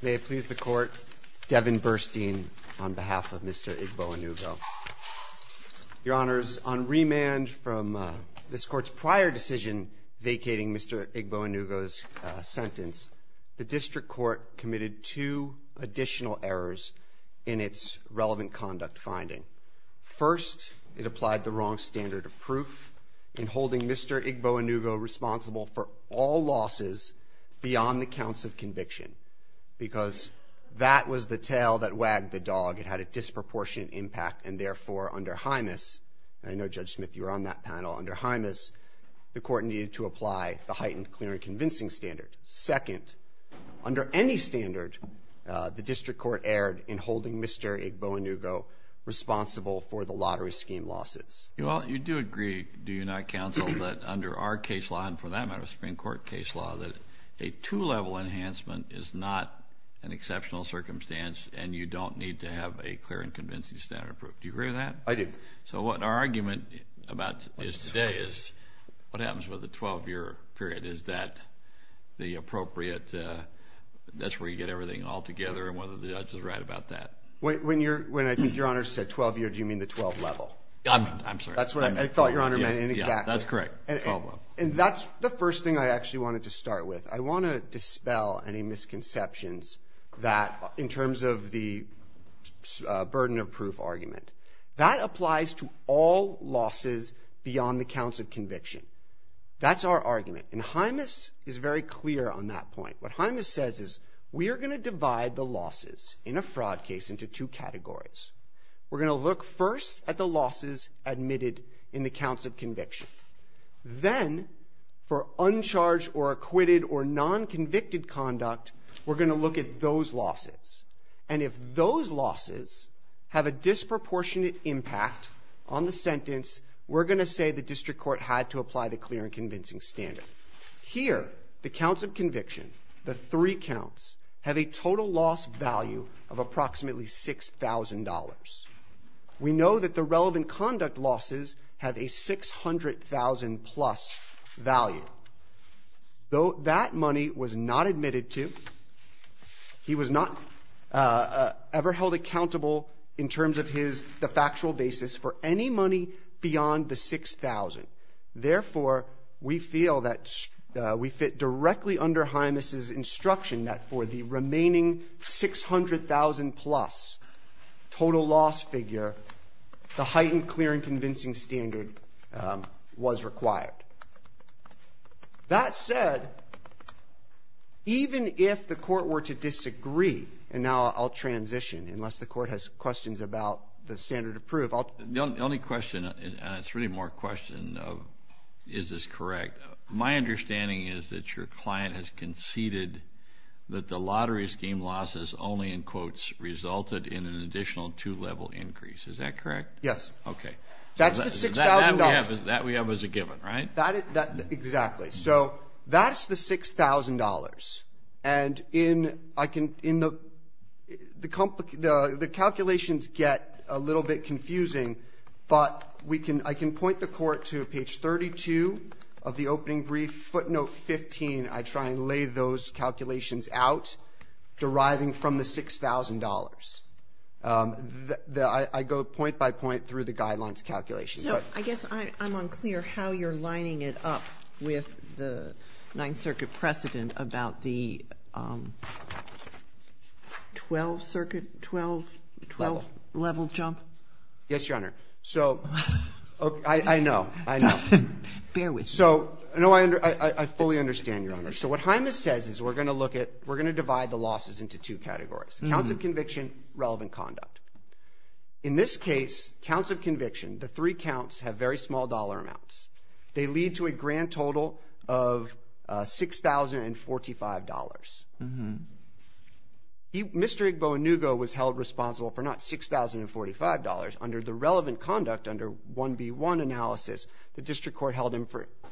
May it please the Court, Devin Burstein on behalf of Mr. Igboanugo. Your Honors, on remand from this Court's prior decision vacating Mr. Igboanugo's sentence, the District Court committed two additional errors in its relevant conduct finding. First, it applied the wrong standard of proof in holding Mr. Igboanugo responsible for all losses beyond the counts of conviction, because that was the tail that wagged the dog. It had a disproportionate impact, and therefore, under HIMAS, and I know, Judge Smith, you were on that panel, under HIMAS, the Court needed to apply the heightened clear and convincing standard. Second, under any standard, the District Court erred in holding Mr. Igboanugo responsible for the lottery scheme losses. Well, you do agree, do you not, Counsel, that under our case law, and for that matter, Supreme Court case law, that a two-level enhancement is not an exceptional circumstance, and you don't need to have a clear and convincing standard of proof. Do you agree with that? I do. So what our argument about today is, what happens with a 12-year period, is that the appropriate, that's where you get everything all together, and whether the Judge was right about that. When I think Your Honors said 12-year, do you mean the 12-level? I'm sorry. That's what I thought Your Honor meant, exactly. Yeah, that's correct. 12-level. And that's the first thing I actually wanted to start with. I want to dispel any misconceptions that, in terms of the burden of proof argument, that applies to all losses beyond the counts of conviction. That's our argument, and HIMAS is very clear on that point. What HIMAS says is, we are going to divide the losses in a fraud case into two categories. We're going to look first at the losses admitted in the counts of conviction. Then, for uncharged or acquitted or non-convicted conduct, we're going to look at those losses. And if those losses have a disproportionate impact on the sentence, we're going to say the district court had to apply the clear and convincing standard. Here, the counts of conviction, the three counts, have a total loss value of approximately $6,000. We know that the relevant conduct losses have a $600,000-plus value. Though that money was not admitted to, he was not ever held accountable, in terms of the factual basis, for any money beyond the $6,000. Therefore, we feel that we fit directly under HIMAS's instruction that for the remaining $600,000-plus total loss figure, the heightened clear and convincing standard was required. That said, even if the Court were to disagree, and now I'll transition, unless the Court has questions about the standard of proof. The only question, and it's really more a question of is this correct, my understanding is that your client has conceded that the lottery scheme losses only, in quotes, resulted in an additional two-level increase. Is that correct? Okay. That's the $6,000. That we have as a given, right? Exactly. So that's the $6,000. And in the the calculations get a little bit confusing, but I can point the Court to page 32 of the opening brief, footnote 15. I try and lay those calculations out, deriving from the $6,000. I go point by point through the guidelines calculations. I guess I'm unclear how you're lining it up with the Ninth Circuit precedent about the 12th Circuit, 12th level jump. Yes, Your Honor. I know. I know. Bear with me. I fully understand, Your Honor. So what HIMAS says is we're going to divide the losses into two categories, counts of conviction, relevant conduct. In this case, counts of conviction, the three counts have very small dollar amounts. They lead to a grand total of $6,045. Mr. Igbo Inugo was held responsible for not $6,045. Under the relevant conduct, under 1B1 analysis, the District Court held him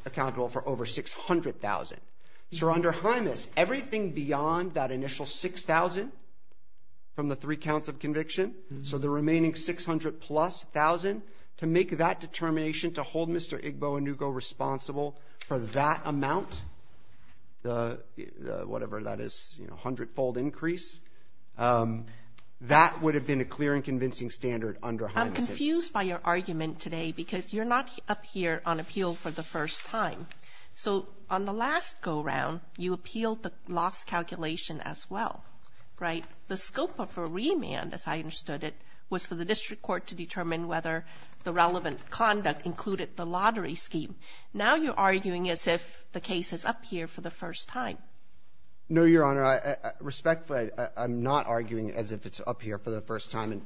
accountable for over $600,000. So under HIMAS, everything beyond that initial $6,000 from the three counts of conviction, so the remaining $600,000 plus, $1,000, to make that determination to hold Mr. Igbo Inugo responsible for that amount, whatever that is, a hundredfold increase, that would have been a clear and convincing standard under HIMAS. I'm confused by your argument today because you're not up here on appeal for the first time. So on the last go-around, you appealed the loss calculation as well, right? The scope of a remand, as I understood it, was for the District Court to determine whether the relevant conduct included the lottery scheme. Now you're arguing as if the case is up here for the first time. No, Your Honor. Respectfully, I'm not arguing as if it's up here for the first time. And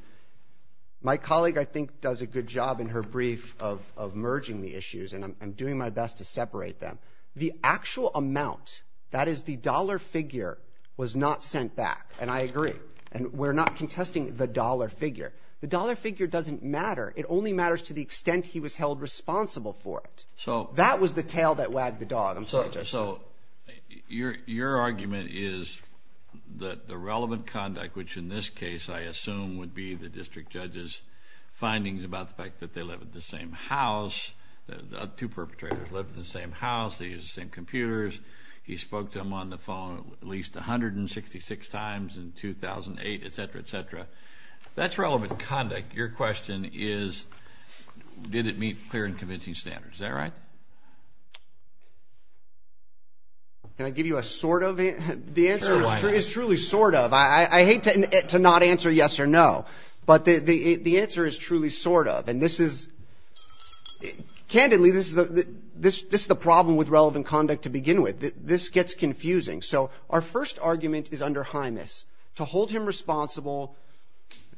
my colleague, I think, does a good job in her brief of merging the issues, and I'm doing my best to separate them. The actual amount, that is the dollar figure, was not sent back. And I agree. And we're not contesting the dollar figure. The dollar figure doesn't matter. It only matters to the extent he was held responsible for it. That was the tail that wagged the dog, I'm sorry to say. So your argument is that the relevant conduct, which in this case, I assume, would be the District Judge's findings about the fact that they live at the same house, two perpetrators live in the same house, they use the same computers, he spoke to them on the phone at least 166 times in 2008, et cetera, et cetera. That's relevant conduct. Your question is did it meet clear and convincing standards. Is that right? Can I give you a sort of answer? The answer is truly sort of. I hate to not answer yes or no, but the answer is truly sort of. And this is, candidly, this is the problem with relevant conduct to begin with. This gets confusing. So our first argument is under Hymus to hold him responsible,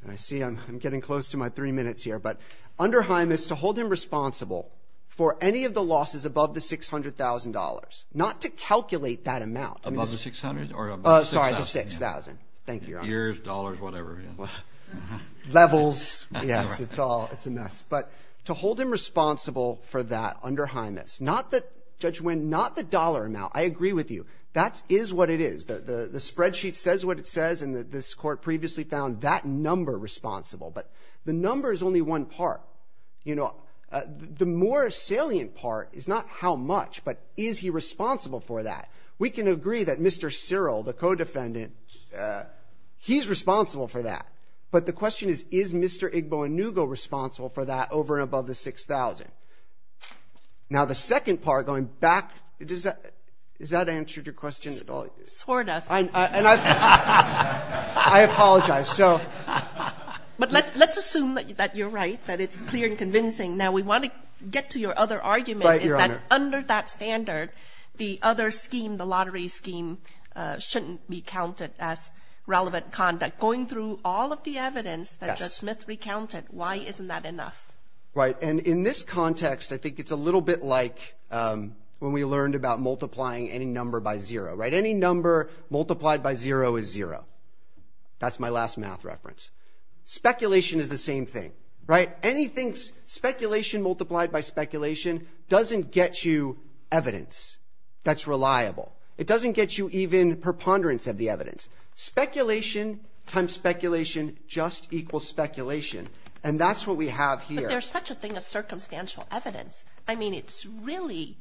and I see I'm getting close to my three minutes here, but under Hymus to hold him responsible for any of the losses above the $600,000, not to calculate that amount. Above the $600,000 or above the $6,000? Sorry, the $6,000. Years, dollars, whatever. Levels. Yes, it's all, it's a mess. But to hold him responsible for that under Hymus, not the, Judge Winn, not the dollar amount. I agree with you. That is what it is. The spreadsheet says what it says, and this Court previously found that number responsible. But the number is only one part. You know, the more salient part is not how much, but is he responsible for that. We can agree that Mr. Cyril, the co-defendant, he's responsible for that. But the question is, is Mr. Igbo Inugo responsible for that over and above the $6,000? Now, the second part, going back, is that answered your question at all? Sort of. And I apologize. But let's assume that you're right, that it's clear and convincing. Right, Your Honor. That under that standard, the other scheme, the lottery scheme, shouldn't be counted as relevant conduct. Going through all of the evidence that Judge Smith recounted, why isn't that enough? Right. And in this context, I think it's a little bit like when we learned about multiplying any number by zero, right? Any number multiplied by zero is zero. That's my last math reference. Speculation is the same thing, right? Speculation multiplied by speculation doesn't get you evidence that's reliable. It doesn't get you even preponderance of the evidence. Speculation times speculation just equals speculation. And that's what we have here. But there's such a thing as circumstantial evidence. I mean, it's really,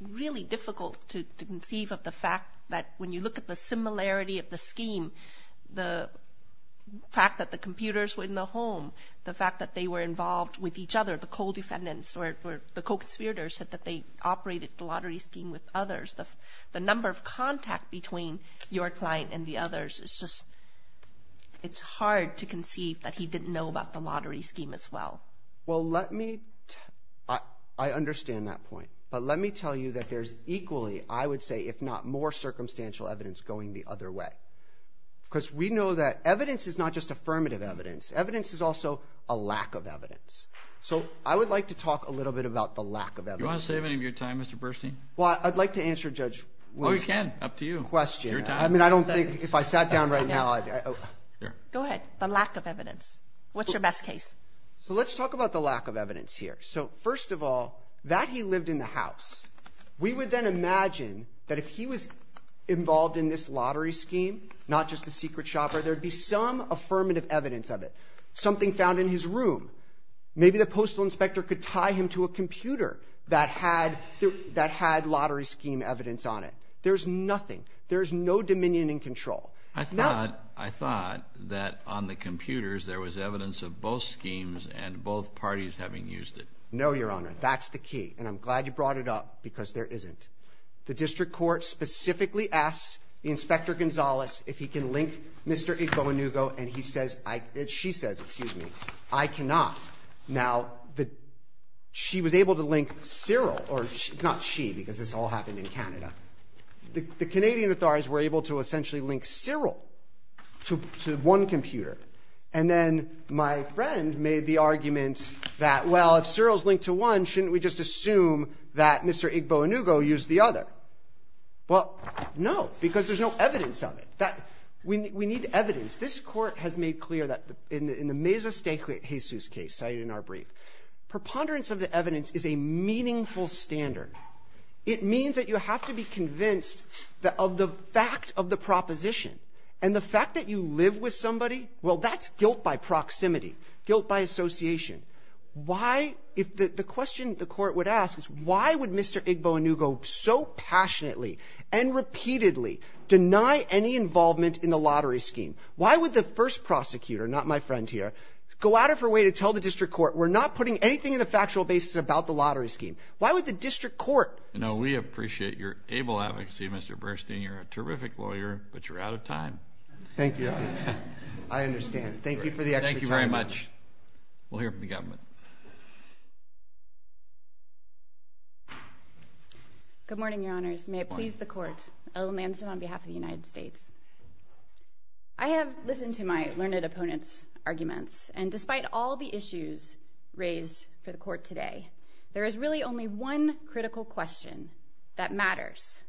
really difficult to conceive of the fact that when you look at the similarity of the scheme, the fact that the computers were in the home, the fact that they were involved with each other, the co-defendants or the co-conspirators said that they operated the lottery scheme with others. The number of contact between your client and the others is just, it's hard to conceive that he didn't know about the lottery scheme as well. Well, let me, I understand that point. But let me tell you that there's equally, I would say, if not more, circumstantial evidence going the other way. Because we know that evidence is not just affirmative evidence. Evidence is also a lack of evidence. So I would like to talk a little bit about the lack of evidence. Do you want to save any of your time, Mr. Burstein? Well, I'd like to answer Judge Williams' question. Oh, you can. Up to you. I mean, I don't think if I sat down right now I'd... Go ahead. The lack of evidence. What's your best case? So let's talk about the lack of evidence here. So first of all, that he lived in the house, we would then imagine that if he was involved in this lottery scheme, not just the secret shopper, there'd be some affirmative evidence of it. Something found in his room. Maybe the postal inspector could tie him to a computer that had lottery scheme evidence on it. There's nothing. There's no dominion in control. I thought, I thought that on the computers there was evidence of both schemes and both parties having used it. No, Your Honor. That's the key. And I'm glad you brought it up because there isn't. The district court specifically asked Inspector Gonzales if he can link Mr. Igbo Inugo and he says, she says, excuse me, I cannot. Now, she was able to link Cyril or not she because this all happened in Canada. The Canadian authorities were able to essentially link Cyril to one computer. And then my friend made the argument that, well, if Cyril's linked to one, shouldn't we just assume that Mr. Igbo Inugo used the other? Well, no, because there's no evidence of it. That, we need evidence. This court has made clear that in the Mesa Stake Jesus case cited in our brief, preponderance of the evidence is a meaningful standard. It means that you have to be convinced that of the fact of the proposition and the fact that you live with somebody, well, that's guilt by proximity, guilt by association. Why, if the question the Court would ask is why would Mr. Igbo Inugo so passionately and repeatedly deny any involvement in the lottery scheme? Why would the first prosecutor, not my friend here, go out of her way to tell the district court, we're not putting anything in the factual basis about the lottery in the court? No, we appreciate your able advocacy, Mr. Burstein. You're a terrific lawyer, but you're out of time. Thank you, Your Honor. I understand. Thank you for the extra time. Thank you very much. We'll hear from the government. Good morning, Your Honors. May it please the Court. Ella Manson on behalf of the United States. I have listened to my learned opponent's arguments, and despite all the issues raised for the Court today, there is really only one critical question that matters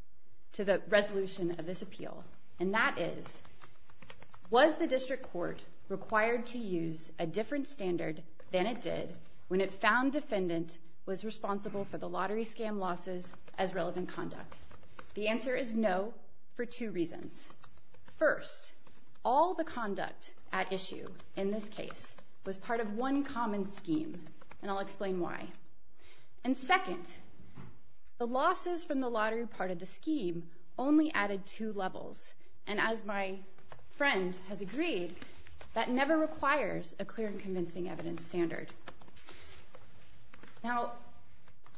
to the resolution of this appeal, and that is, was the district court required to use a different standard than it did when it found defendant was responsible for the lottery scam losses as relevant conduct? The answer is no for two reasons. First, all the conduct at issue in this case was part of one common scheme, and I'll explain why. And second, the losses from the lottery part of the scheme only added two levels, and as my friend has agreed, that never requires a clear and convincing evidence standard. Now,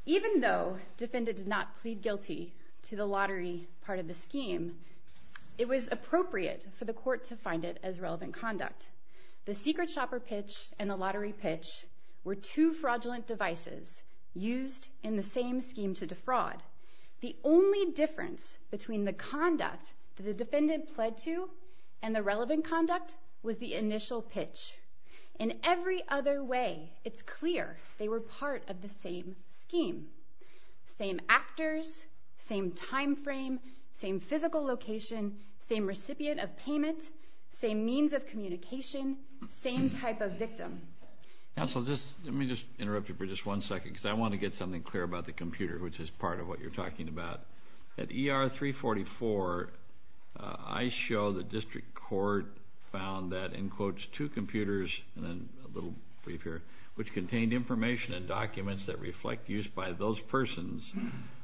even though defendant did not plead guilty to the lottery part of the scheme, it was appropriate for the Court to find it as relevant conduct. The secret shopper pitch and the lottery pitch were two fraudulent devices used in the same scheme to defraud. The only difference between the conduct that the defendant pled to and the relevant conduct was the initial pitch. In every other way, it's clear they were part of the same scheme. Same actors, same time frame, same physical location, same recipient of payment, same means of communication, same type of victim. Counsel, let me just interrupt you for just one second because I want to get something clear about the computer, which is part of what you're talking about. At ER 344, I show the district court found that, in quotes, two computers, and then a little brief here, which contained information and documents that reflect use by those persons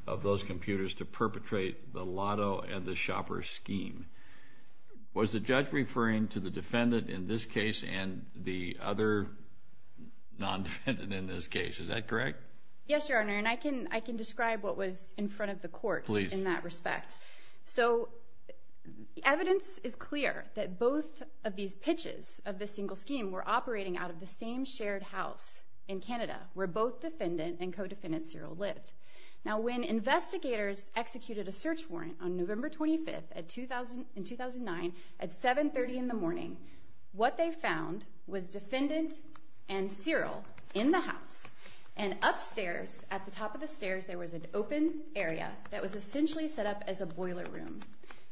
of those computers to perpetrate the lotto and the shopper scheme. Was the judge referring to the defendant in this case and the other non-defendant in this case? Is that correct? Yes, Your Honor, and I can describe what was in front of the Court in that respect. Please. So the evidence is clear that both of these pitches of this single scheme were operating out of the same shared house in Canada where both defendant and co-defendant Cyril lived. Now, when investigators executed a search warrant on November 25th in 2009 at 730 in the morning, what they found was defendant and Cyril in the house, and upstairs at the top of the stairs there was an open area that was essentially set up as a boiler room,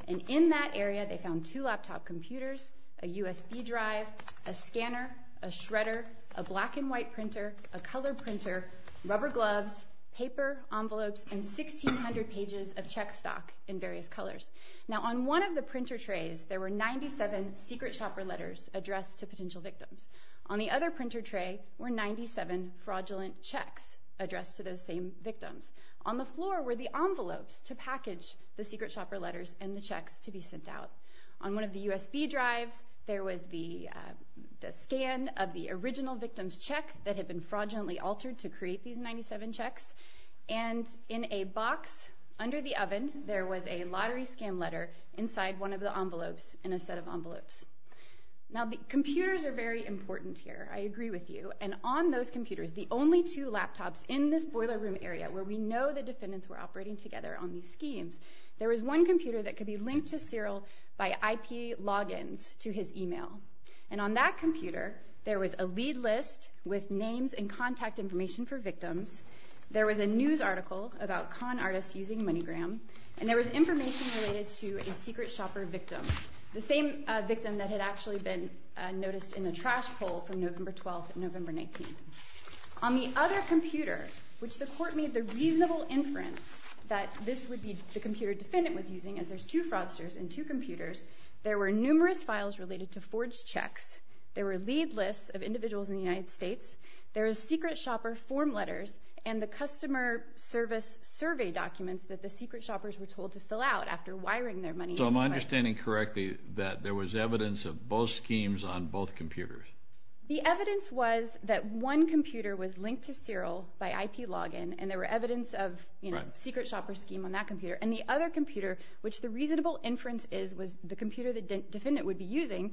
and in that area they found two laptop computers, a USB drive, a scanner, a shredder, a black and white printer, a color printer, rubber gloves, paper, envelopes, and 1,600 pages of check stock in various colors. Now, on one of the printer trays there were 97 secret shopper letters addressed to potential victims. On the other printer tray were 97 fraudulent checks addressed to those same victims. On the floor were the envelopes to package the secret shopper letters and the checks to be sent out. On one of the USB drives there was the scan of the original victim's check that had been fraudulently altered to create these 97 checks, and in a box under the oven there was a lottery scam letter inside one of the envelopes in a set of envelopes. Now, computers are very important here, I agree with you, and on those computers, the only two laptops in this boiler room area where we know the defendants were operating together on these schemes, there was one computer that could be linked to Cyril by IP logins to his email, and on that computer there was a lead list with names and contact information for victims, there was a news article about con artists using MoneyGram, and there was information related to a secret shopper victim, the same victim that had actually been noticed in the trash poll from November 12th and November 19th. On the other computer, which the court made the reasonable inference that this would be the computer the defendant was using, as there's two fraudsters and two computers, there were numerous files related to forged checks, there were lead lists of individuals in the United States, there was secret shopper form letters, and the customer service survey documents that the secret shoppers were told to fill out after wiring their money. So am I understanding correctly that there was evidence of both schemes on both computers? The evidence was that one computer was linked to Cyril by IP login, and there were evidence of secret shopper scheme on that computer, and the other computer, which the reasonable inference is was the computer the defendant would be using,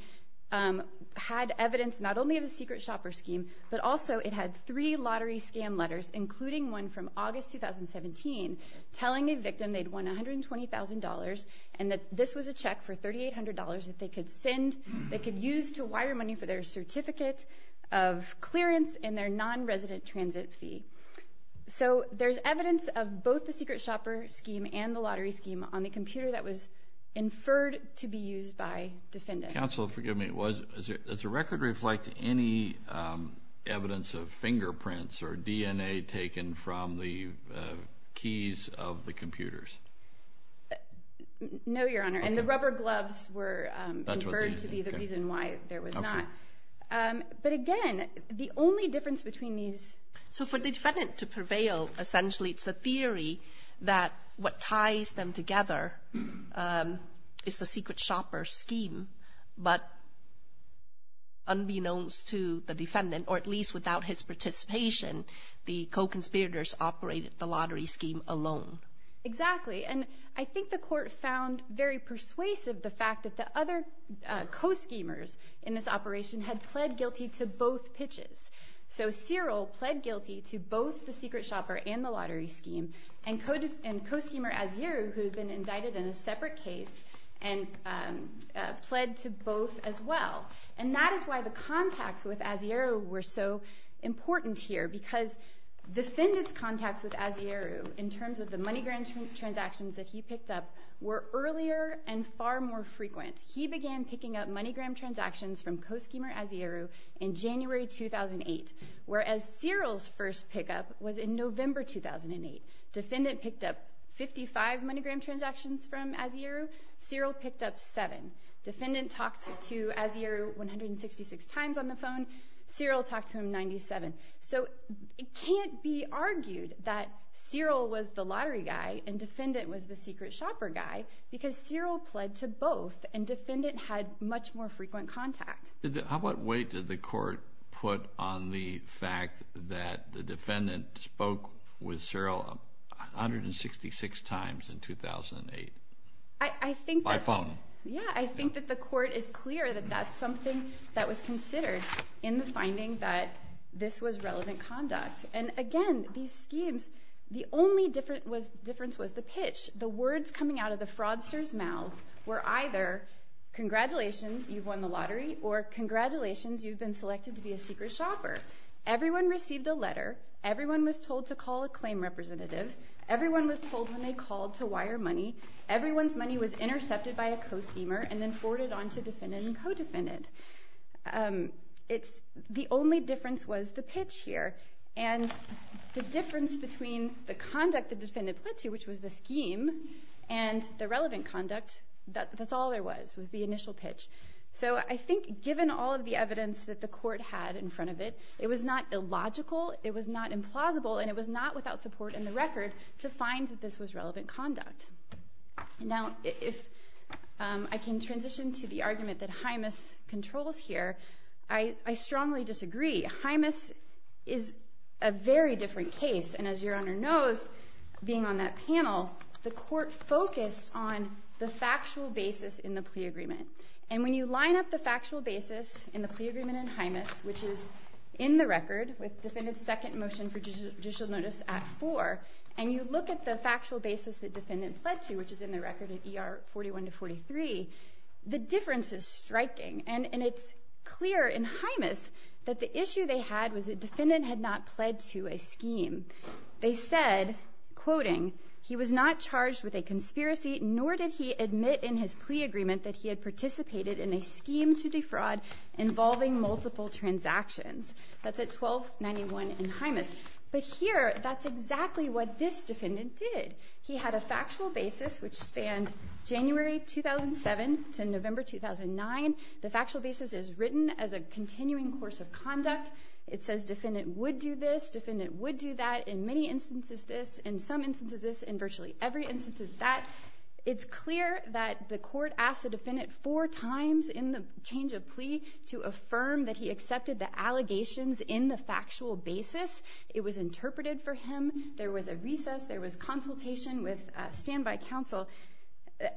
had evidence not only of the secret shopper scheme, but also it had three lottery scam letters, including one from August 2017, telling a victim they'd won $120,000, and that this was a check for $3,800 that they could send, they could use to wire money for their certificate of clearance and their non-resident transit fee. So there's evidence of both the secret shopper scheme and the lottery scheme on the computer that was inferred to be used by the defendant. Counsel, forgive me, does the record reflect any evidence of fingerprints or DNA taken from the keys of the computers? No, Your Honor, and the rubber gloves were inferred to be the reason why there was not. But again, the only difference between these... So for the defendant to prevail, essentially it's the theory that what ties them together is the secret shopper scheme, but unbeknownst to the defendant, or at least without his participation, the co-conspirators operated the lottery scheme alone. Exactly, and I think the court found very persuasive the fact that the other co-schemers in this operation had pled guilty to both pitches. So Cyril pled guilty to both the secret shopper and the lottery scheme, and co-schemer Asieru, who had been indicted in a separate case, pled to both as well. And that is why the contacts with Asieru were so important here, because defendant's contacts with Asieru, in terms of the money grant transactions that he picked up, were earlier and far more frequent. He began picking up money grant transactions from co-schemer Asieru in January 2008, whereas Cyril's first pickup was in November 2008. Defendant picked up 55 money grant transactions from Asieru, Cyril picked up seven. Defendant talked to Asieru 166 times on the phone, Cyril talked to him 97. So it can't be argued that Cyril was the lottery guy and defendant was the secret shopper guy, because Cyril pled to both, and defendant had much more frequent contact. How much weight did the court put on the fact that the defendant spoke with Cyril 166 times in 2008? By phone. Yeah, I think that the court is clear that that's something that was considered in the finding that this was relevant conduct. And again, these schemes, the only difference was the pitch. The words coming out of the fraudster's mouth were either congratulations, you've won the lottery, or congratulations, you've been selected to be a secret shopper. Everyone received a letter, everyone was told to call a claim representative, everyone was told when they called to wire money, everyone's money was intercepted by a co-schemer and then forwarded on to defendant and co-defendant. The only difference was the pitch here. And the difference between the conduct the defendant pled to, which was the scheme, and the relevant conduct, that's all there was, was the initial pitch. So I think given all of the evidence that the court had in front of it, it was not illogical, it was not implausible, and it was not without support in the record to find that this was relevant conduct. Now, if I can transition to the argument that Hymas controls here, I strongly disagree. Hymas is a very different case, and as Your Honor knows, being on that panel, the court focused on the factual basis in the plea agreement. And when you line up the factual basis in the plea agreement in Hymas, which is in the record, with defendant's second motion for judicial notice at 4, and you look at the factual basis that defendant pled to, the difference is striking. And it's clear in Hymas that the issue they had was that defendant had not pled to a scheme. They said, quoting, That's at 1291 in Hymas. But here, that's exactly what this defendant did. He had a factual basis which spanned January 2007 to November 2009. The factual basis is written as a continuing course of conduct. It says defendant would do this, defendant would do that, in many instances this, in some instances this, in virtually every instance that. It's clear that the court asked the defendant four times in the change of plea to affirm that he accepted the allegations in the factual basis. It was interpreted for him. There was a recess. There was consultation with standby counsel.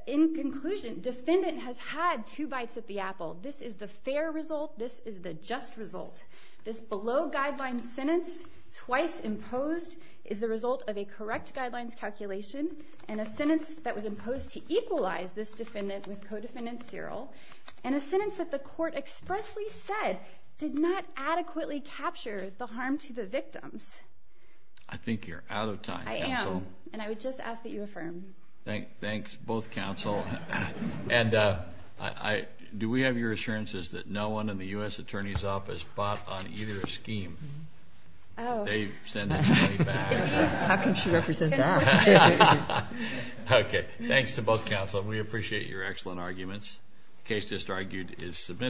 In conclusion, defendant has had two bites at the apple. This is the fair result. This is the just result. This below-guidelines sentence, twice imposed, is the result of a correct guidelines calculation and a sentence that was imposed to equalize this defendant with co-defendant's serial, and a sentence that the court expressly said did not adequately capture the harm to the victims. I think you're out of time. I am. And I would just ask that you affirm. Thanks, both counsel. And do we have your assurances that no one in the U.S. Attorney's Office bought on either scheme? Oh. They sent the money back. How can she represent that? Okay. Thanks to both counsel. We appreciate your excellent arguments. The case just argued is submitted.